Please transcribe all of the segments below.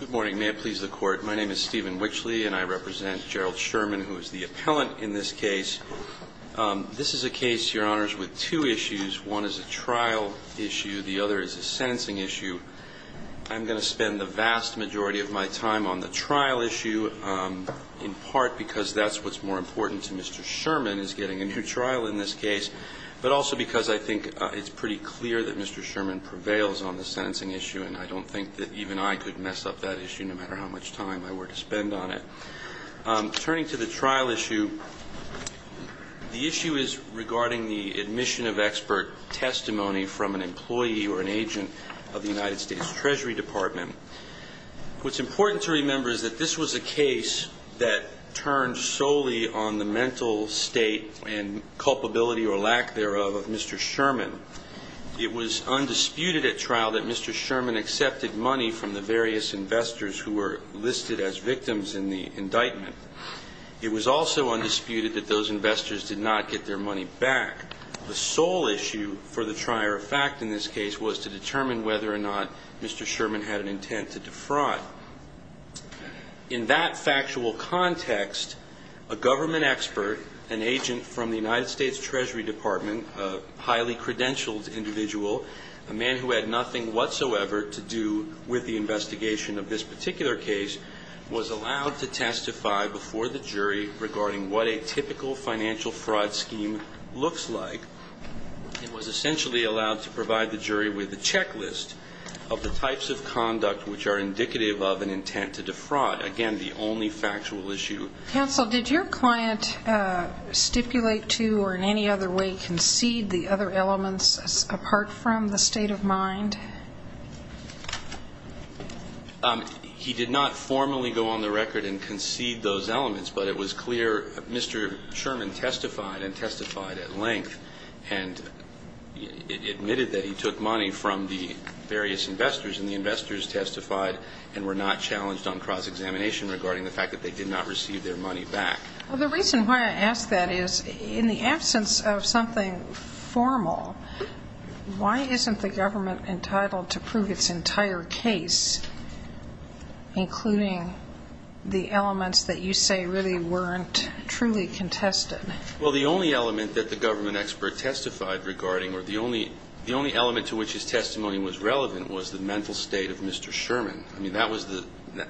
Good morning. May it please the Court. My name is Stephen Wichley, and I represent Gerald Sherman, who is the appellant in this case. This is a case, Your Honors, with two issues. One is a trial issue. The other is a sentencing issue. I'm going to spend the vast majority of my time on the trial issue, in part because that's what's more important to Mr. Sherman, is getting a new trial in this case, but also because I think it's pretty clear that Mr. Sherman prevails on the sentencing issue and I don't think that even I could mess up that issue, no matter how much time I were to spend on it. Turning to the trial issue, the issue is regarding the admission of expert testimony from an employee or an agent of the United States Treasury Department. What's important to remember is that this was a case that turned solely on the mental state and culpability or lack thereof of Mr. Sherman. It was undisputed at trial that Mr. Sherman accepted money from the various investors who were listed as victims in the indictment. It was also undisputed that those investors did not get their money back. The sole issue for the trier of fact in this case was to determine whether or not Mr. Sherman had an intent to defraud. In that factual context, a government expert, an agent from the United States Treasury Department, a highly credentialed individual, a man who had nothing whatsoever to do with the investigation of this particular case, was allowed to testify before the jury regarding what a typical financial fraud scheme looks like. It was essentially allowed to provide the jury with a checklist of the types of conduct which are indicative of an intent to defraud. Again, the only factual issue. Counsel, did your client stipulate to or in any other way concede the other elements apart from the state of mind? He did not formally go on the record and concede those elements, but it was clear Mr. Sherman testified and testified at length and admitted that he took money from the various investors and the investors testified and were not challenged on cross-examination regarding the fact that they did not receive their money back. Well, the reason why I ask that is in the absence of something formal, why isn't the government entitled to prove its entire case, including the elements that you say really weren't truly contested? Well, the only element that the government expert testified regarding or the only element to which his testimony was relevant was the mental state of Mr. Sherman. I mean, that was the ñ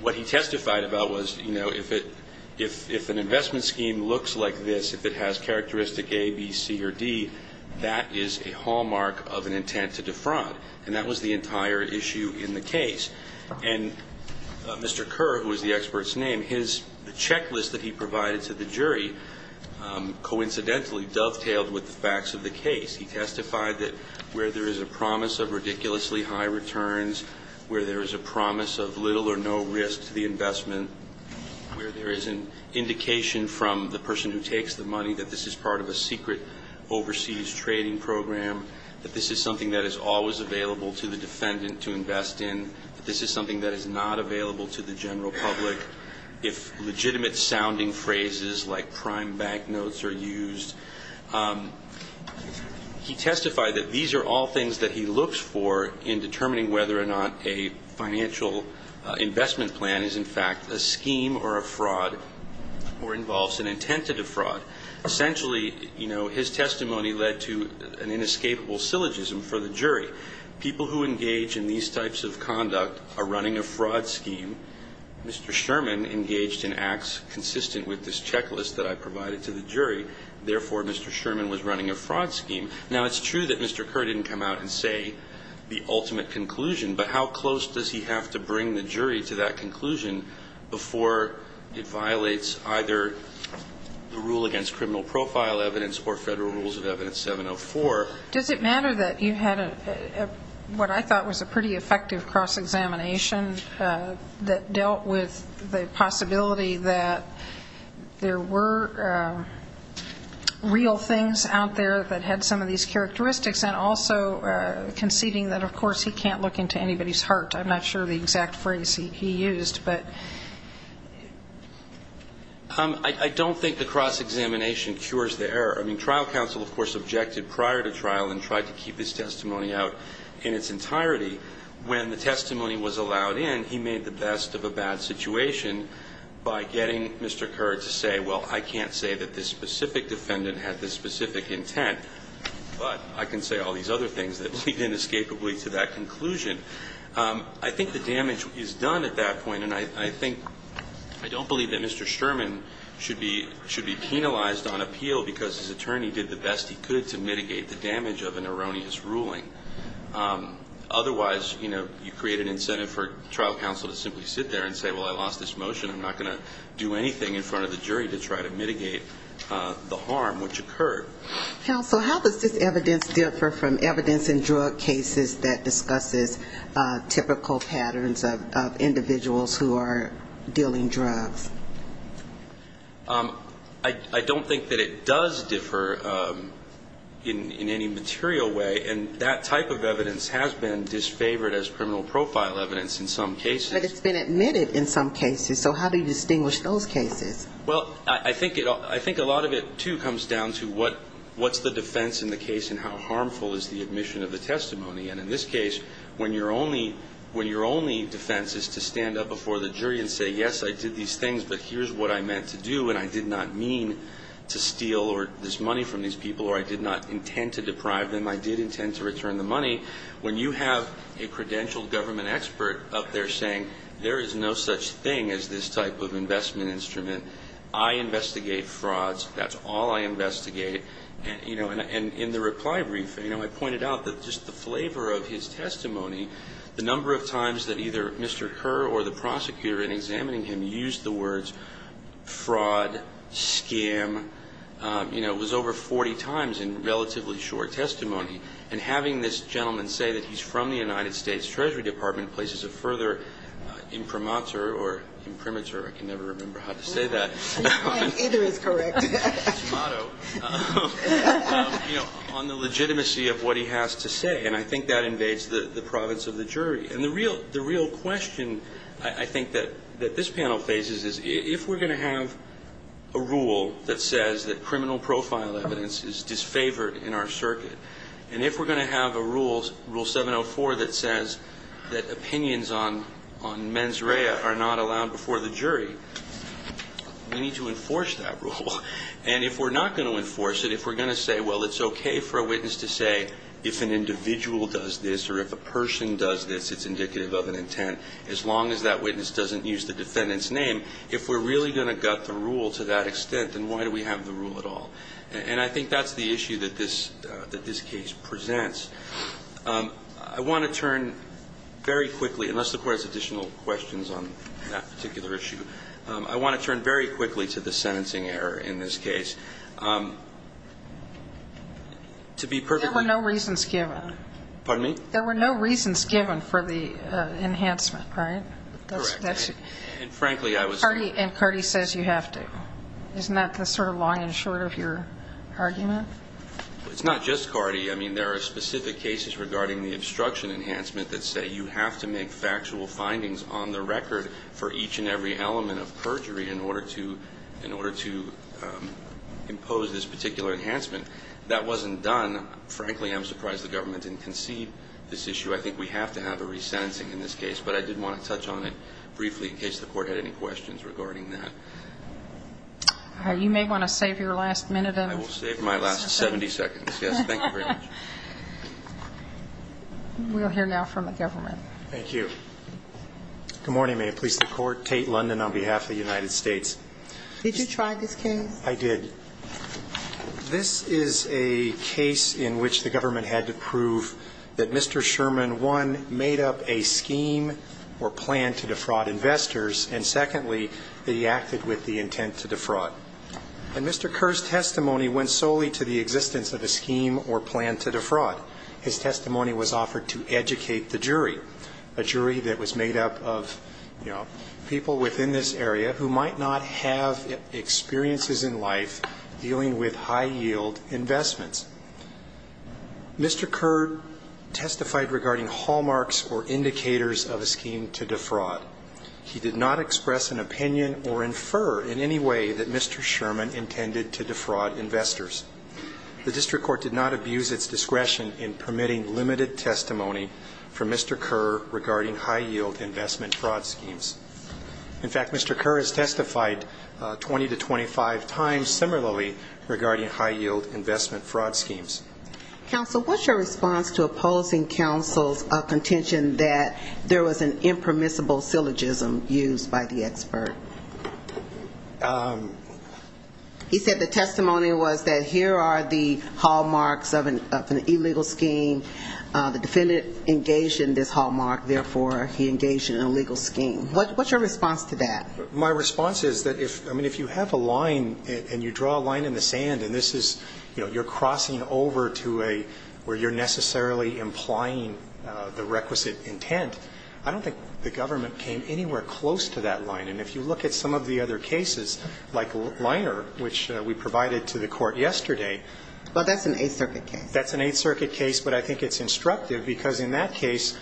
what he testified about was, you know, if an investment scheme looks like this, if it has characteristic A, B, C, or D, that is a hallmark of an intent to defraud. And that was the entire issue in the case. And Mr. Kerr, who is the expert's name, his ñ the checklist that he provided to the jury coincidentally dovetailed with the facts of the case. He testified that where there is a promise of ridiculously high returns, where there is a promise of little or no risk to the investment, where there is an indication from the person who takes the money that this is part of a secret overseas trading program, that this is something that is always available to the defendant to invest in, that this is something that is not available to the general public, if legitimate-sounding phrases like prime bank notes are used, he testified that these are all things that he looks for in determining whether or not a financial investment plan is, in fact, a scheme or a fraud or involves an intent to defraud. Essentially, you know, his testimony led to an inescapable syllogism for the jury. People who engage in these types of conduct are running a fraud scheme. Mr. Sherman engaged in acts consistent with this checklist that I provided to the jury. Therefore, Mr. Sherman was running a fraud scheme. Now, it's true that Mr. Kerr didn't come out and say the ultimate conclusion, but how close does he have to bring the jury to that conclusion before it violates either the rule against criminal profile evidence or federal rules of evidence 704? Does it matter that you had what I thought was a pretty effective cross-examination that dealt with the possibility that there were real things out there that had some of these characteristics and also conceding that, of course, he can't look into anybody's heart? I'm not sure the exact phrase he used, but... I don't think the cross-examination cures the error. I mean, trial counsel, of course, objected prior to trial and tried to keep his testimony out in its entirety. When the testimony was allowed in, he made the best of a bad situation by getting Mr. Kerr to say, well, I can't say that this specific defendant had this specific intent, but I can say all these other things that lead inescapably to that conclusion. I think the damage is done at that point, and I think I don't believe that Mr. Sherman should be penalized on appeal because his attorney did the best he could to mitigate the damage of an erroneous ruling. Otherwise, you create an incentive for trial counsel to simply sit there and say, well, I lost this motion, I'm not going to do anything in front of the jury to try to mitigate the harm which occurred. Counsel, how does this evidence differ from evidence in drug cases that discusses typical patterns of individuals who are dealing drugs? I don't think that it does differ in any material way, and that type of evidence has been disfavored as criminal profile evidence in some cases. But it's been admitted in some cases. So how do you distinguish those cases? Well, I think a lot of it, too, comes down to what's the defense in the case and how harmful is the admission of the testimony. And in this case, when your only defense is to stand up before the jury and say, yes, I did these things, but here's what I meant to do, and I did not mean to steal this money from these people, or I did not intend to deprive them, I did intend to return the money. When you have a credentialed government expert up there saying, there is no such thing as this type of investment instrument, I investigate frauds. That's all I investigate. And, you know, in the reply brief, you know, I pointed out that just the flavor of his testimony, the number of times that either Mr. Kerr or the prosecutor in examining him used the words fraud, scam, you know, it was over 40 times in relatively short testimony. And having this gentleman say that he's from the United States Treasury Department places a further imprimatur or imprimatur, I can never remember how to say that. Either is correct. On the legitimacy of what he has to say. And I think that invades the province of the jury. And the real question I think that this panel faces is if we're going to have a rule that says that criminal profile evidence is disfavored in our circuit, and if we're going to have a rule, rule 704, that says that opinions on mens rea are not allowed before the jury, we need to enforce that rule. And if we're not going to enforce it, if we're going to say, well, it's okay for a witness to say if an individual does this or if a person does this, it's indicative of an intent, as long as that witness doesn't use the defendant's name, if we're really going to gut the rule to that extent, then why do we have the rule at all? And I think that's the issue that this case presents. I want to turn very quickly, unless the Court has additional questions on that particular issue, I want to turn very quickly to the sentencing error in this case. To be perfectly clear. There were no reasons given. Pardon me? There were no reasons given for the enhancement, right? Correct. And frankly, I was. And Cardi says you have to. Isn't that the sort of long and short of your argument? It's not just Cardi. I mean, there are specific cases regarding the obstruction enhancement that say you have to make factual findings on the record for each and every element of impose this particular enhancement. That wasn't done. Frankly, I'm surprised the government didn't concede this issue. I think we have to have a resentencing in this case, but I did want to touch on it briefly in case the Court had any questions regarding that. You may want to save your last minute. I will save my last 70 seconds. Yes, thank you very much. We'll hear now from the government. Thank you. Good morning. May it please the Court. Tate London on behalf of the United States. Did you try this case? I did. This is a case in which the government had to prove that Mr. Sherman, one, made up a scheme or plan to defraud investors, and secondly, they acted with the intent to defraud. And Mr. Kerr's testimony went solely to the existence of a scheme or plan to defraud. His testimony was offered to educate the jury, a jury that was made up of, you know, people within this area who might not have experiences in life dealing with high-yield investments. Mr. Kerr testified regarding hallmarks or indicators of a scheme to defraud. He did not express an opinion or infer in any way that Mr. Sherman intended to defraud investors. The district court did not abuse its discretion in permitting limited testimony from Mr. Kerr regarding high-yield investment fraud schemes. In fact, Mr. Kerr has testified 20 to 25 times similarly regarding high-yield investment fraud schemes. Counsel, what's your response to opposing counsel's contention that there was an impermissible syllogism used by the expert? He said the testimony was that here are the hallmarks of an illegal scheme, meaning the defendant engaged in this hallmark, therefore he engaged in an illegal scheme. What's your response to that? My response is that if, I mean, if you have a line and you draw a line in the sand and this is, you know, you're crossing over to a where you're necessarily implying the requisite intent, I don't think the government came anywhere close to that line. And if you look at some of the other cases, like Liner, which we provided to the court yesterday. Well, that's an Eighth Circuit case. That's an Eighth Circuit case, but I think it's instructive because in that case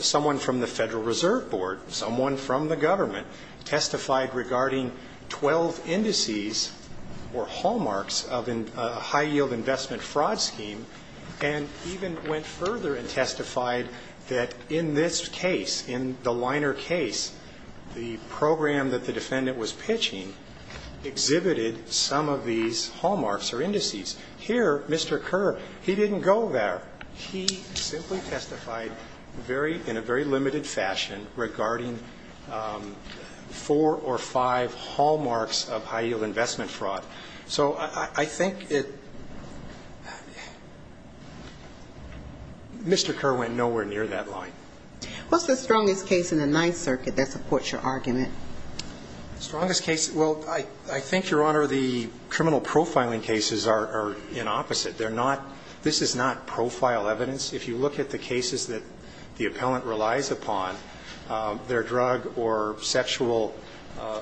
someone from the Federal Reserve Board, someone from the government testified regarding 12 indices or hallmarks of a high-yield investment fraud scheme, and even went further and testified that in this case, in the Liner case, the program that the defendant was pitching exhibited some of these hallmarks or indices. Here, Mr. Kerr, he didn't go there. He simply testified very, in a very limited fashion regarding four or five hallmarks of high-yield investment fraud. So I think it, Mr. Kerr went nowhere near that line. What's the strongest case in the Ninth Circuit that supports your argument? The strongest case, well, I think, Your Honor, the criminal profiling cases are in opposite. They're not, this is not profile evidence. If you look at the cases that the appellant relies upon, they're drug or sexual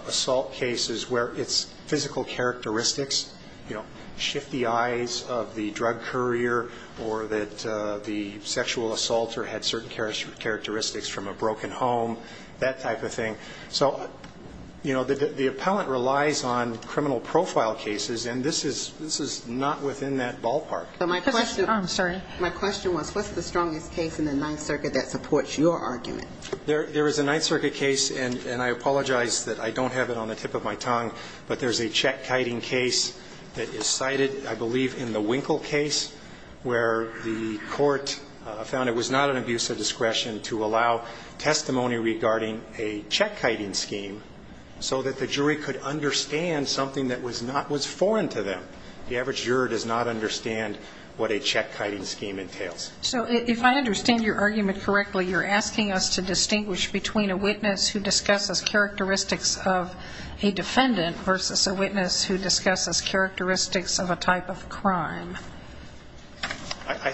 assault cases where its physical characteristics, you know, shift the eyes of the drug courier or that the sexual assaulter had certain characteristics from a broken home, that type of thing. So, you know, the appellant relies on criminal profile cases, and this is not within that ballpark. But my question. I'm sorry. My question was what's the strongest case in the Ninth Circuit that supports your argument? There is a Ninth Circuit case, and I apologize that I don't have it on the tip of my tongue, but there's a check-kiting case that is cited, I believe, in the Winkle case where the court found it was not an abuse of discretion to allow testimony regarding a check-kiting scheme so that the jury could understand something that was not, was foreign to them. The average juror does not understand what a check-kiting scheme entails. So if I understand your argument correctly, you're asking us to distinguish between a witness who discusses characteristics of a defendant versus a witness who discusses characteristics of a type of crime.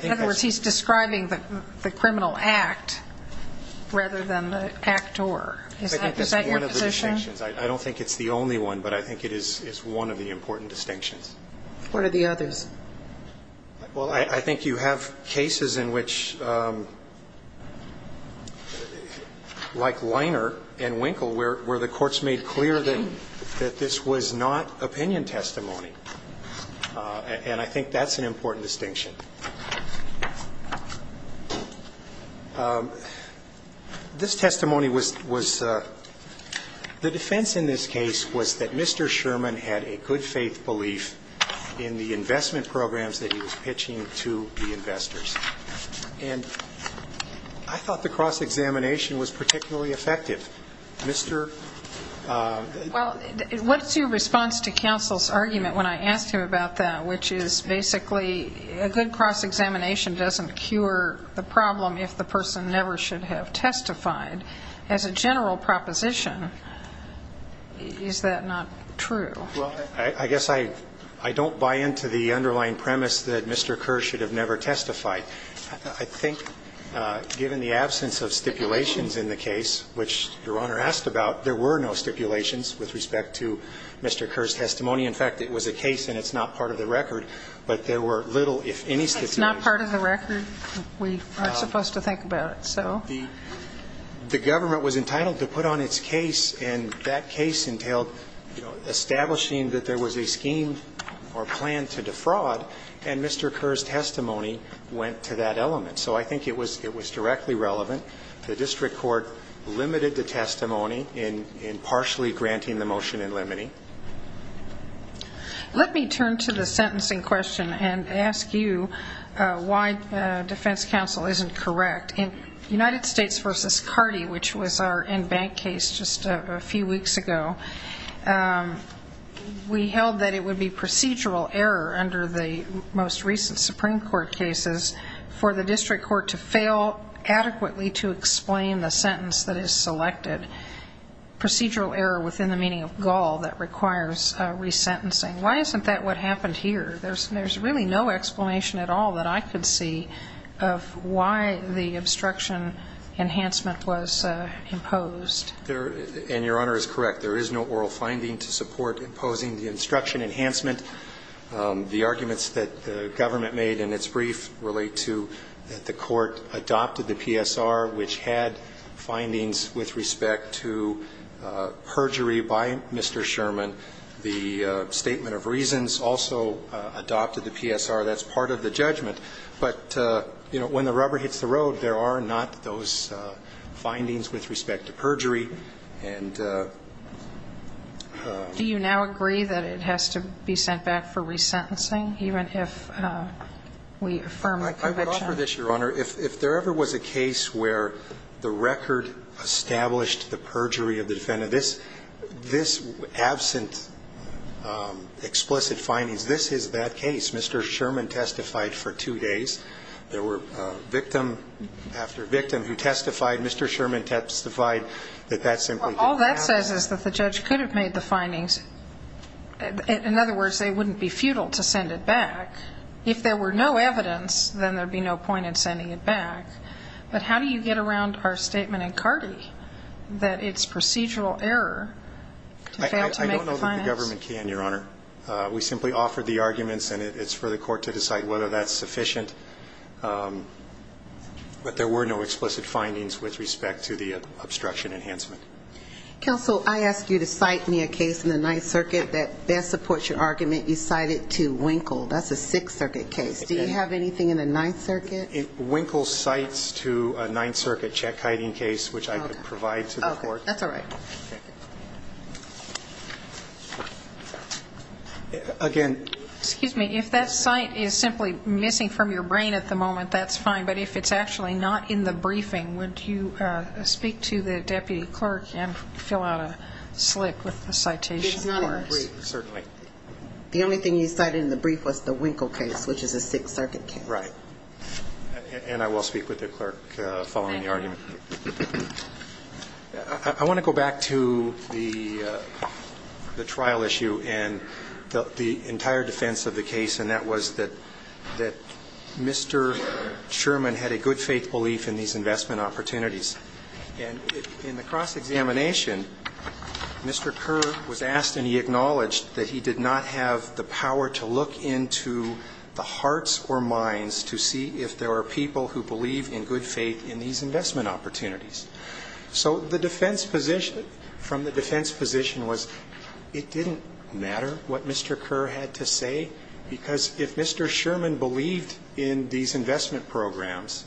In other words, he's describing the criminal act rather than the act or. Is that your position? I think it's one of the distinctions. I don't think it's the only one, but I think it is one of the important distinctions. What are the others? Well, I think you have cases in which, like Liner and Winkle, where the courts made clear that this was not opinion testimony. And I think that's an important distinction. This testimony was, the defense in this case was that Mr. Sherman had a good faith belief in the investment programs that he was pitching to the investors. And I thought the cross-examination was particularly effective. Well, what's your response to counsel's argument when I asked him about that, which is basically a good cross-examination doesn't cure the problem if the person never should have testified. As a general proposition, is that not true? Well, I guess I don't buy into the underlying premise that Mr. Kerr should have never testified. I think given the absence of stipulations in the case, which Your Honor asked about, there were no stipulations with respect to Mr. Kerr's testimony. In fact, it was a case and it's not part of the record, but there were little, if any, stipulations. It's not part of the record. We aren't supposed to think about it, so. The government was entitled to put on its case, and that case entailed establishing that there was a scheme or plan to defraud. And Mr. Kerr's testimony went to that element. So I think it was directly relevant. The district court limited the testimony in partially granting the motion and limiting. Let me turn to the sentencing question and ask you why defense counsel isn't correct. In United States v. Cardi, which was our in-bank case just a few weeks ago, we held that it would be procedural error under the most recent Supreme Court cases for the district court to fail adequately to explain the sentence that is selected. Procedural error within the meaning of gall that requires resentencing. Why isn't that what happened here? There's really no explanation at all that I could see of why the obstruction enhancement was imposed. And Your Honor is correct. There is no oral finding to support imposing the obstruction enhancement. The arguments that the government made in its brief relate to that the court adopted the PSR, which had findings with respect to perjury by Mr. Sherman. The statement of reasons also adopted the PSR. That's part of the judgment. But, you know, when the rubber hits the road, there are not those findings with respect to perjury. And the ---- Do you now agree that it has to be sent back for resentencing even if we affirm the conviction? I would offer this, Your Honor. If there ever was a case where the record established the perjury of the defendant, this absent explicit findings, this is that case. Mr. Sherman testified for two days. There were victim after victim who testified. Mr. Sherman testified that that simply didn't happen. All that says is that the judge could have made the findings. In other words, they wouldn't be futile to send it back. If there were no evidence, then there would be no point in sending it back. But how do you get around our statement in Carty that it's procedural error to fail to make the findings? I don't know that the government can, Your Honor. We simply offered the arguments, and it's for the court to decide whether that's sufficient. But there were no explicit findings with respect to the obstruction enhancement. Counsel, I ask you to cite me a case in the Ninth Circuit that best supports your argument. You cited to Winkle. That's a Sixth Circuit case. Do you have anything in the Ninth Circuit? Winkle cites to a Ninth Circuit check hiding case, which I could provide to the court. Okay. That's all right. Again. Excuse me. If that cite is simply missing from your brain at the moment, that's fine. But if it's actually not in the briefing, would you speak to the deputy clerk and fill out a slip with a citation for us? It's not in the brief, certainly. The only thing you cited in the brief was the Winkle case, which is a Sixth Circuit case. Right. And I will speak with the clerk following the argument. Thank you. I want to go back to the trial issue and the entire defense of the case, and that was that Mr. Sherman had a good faith belief in these investment opportunities. And in the cross-examination, Mr. Kerr was asked and he acknowledged that he did not have the power to look into the hearts or minds to see if there are people who believe in good faith in these investment opportunities. So the defense position from the defense position was it didn't matter what Mr. Kerr had to say, because if Mr. Sherman believed in these investment programs,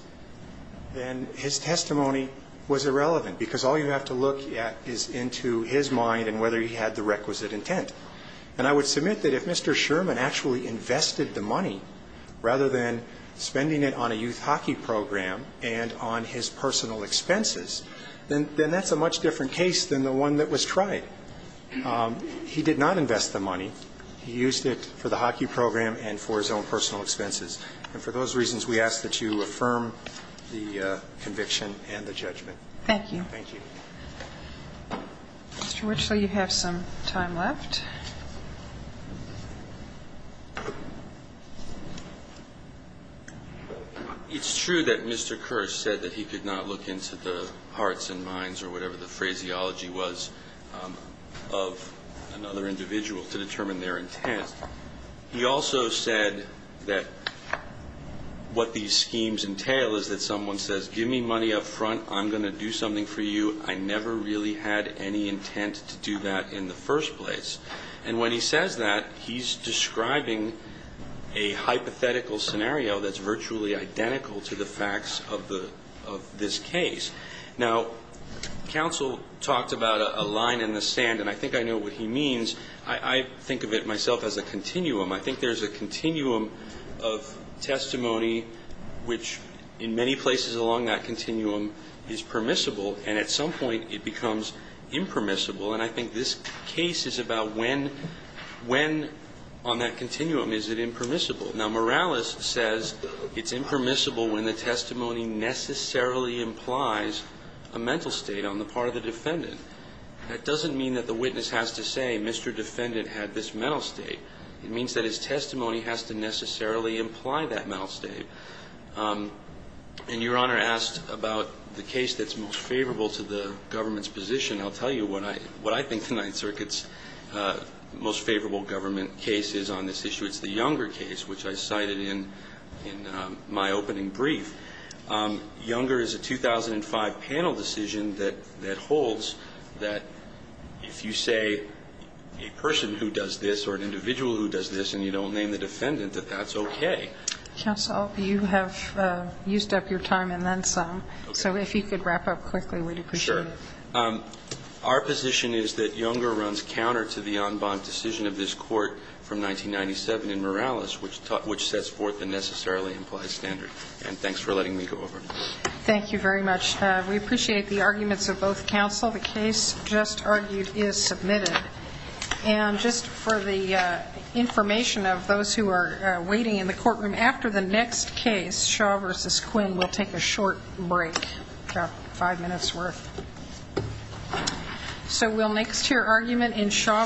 then his testimony was irrelevant, because all you have to look at is into his mind and whether he had the requisite intent. And I would submit that if Mr. Sherman actually invested the money, rather than spending it on a youth hockey program and on his personal expenses, then that's a much different case than the one that was tried. He did not invest the money. He used it for the hockey program and for his own personal expenses. And for those reasons, we ask that you affirm the conviction and the judgment. Thank you. Thank you. Mr. Richley, you have some time left. It's true that Mr. Kerr said that he could not look into the hearts and minds or whatever the phraseology was of another individual to determine their intent. He also said that what these schemes entail is that someone says, give me money up front, I'm going to do something for you. I never really had any intent to do that in the first place. And when he says that, he's describing a hypothetical scenario that's virtually identical to the facts of this case. Now, counsel talked about a line in the sand, and I think I know what he means. I think of it myself as a continuum. I think there's a continuum of testimony which in many places along that continuum is permissible, and at some point it becomes impermissible. And I think this case is about when on that continuum is it impermissible. Now, Morales says it's impermissible when the testimony necessarily implies a mental state on the part of the defendant. That doesn't mean that the witness has to say, Mr. Defendant had this mental state. It means that his testimony has to necessarily imply that mental state. And Your Honor asked about the case that's most favorable to the government's position. I'll tell you what I think the Ninth Circuit's most favorable government case is on this issue. It's the Younger case, which I cited in my opening brief. Younger is a 2005 panel decision that holds that if you say a person who does this or an individual who does this and you don't name the defendant, that that's okay. Counsel, you have used up your time and then some. Okay. So if you could wrap up quickly, we'd appreciate it. Sure. Our position is that Younger runs counter to the en banc decision of this Court from 1997 in Morales, which sets forth the necessarily implies standard. And thanks for letting me go over. Thank you very much. We appreciate the arguments of both counsel. The case just argued is submitted. And just for the information of those who are waiting in the courtroom, after the next case, Shaw v. Quinn, we'll take a short break, about five minutes worth. So we'll next hear argument in Shaw v. Quinn.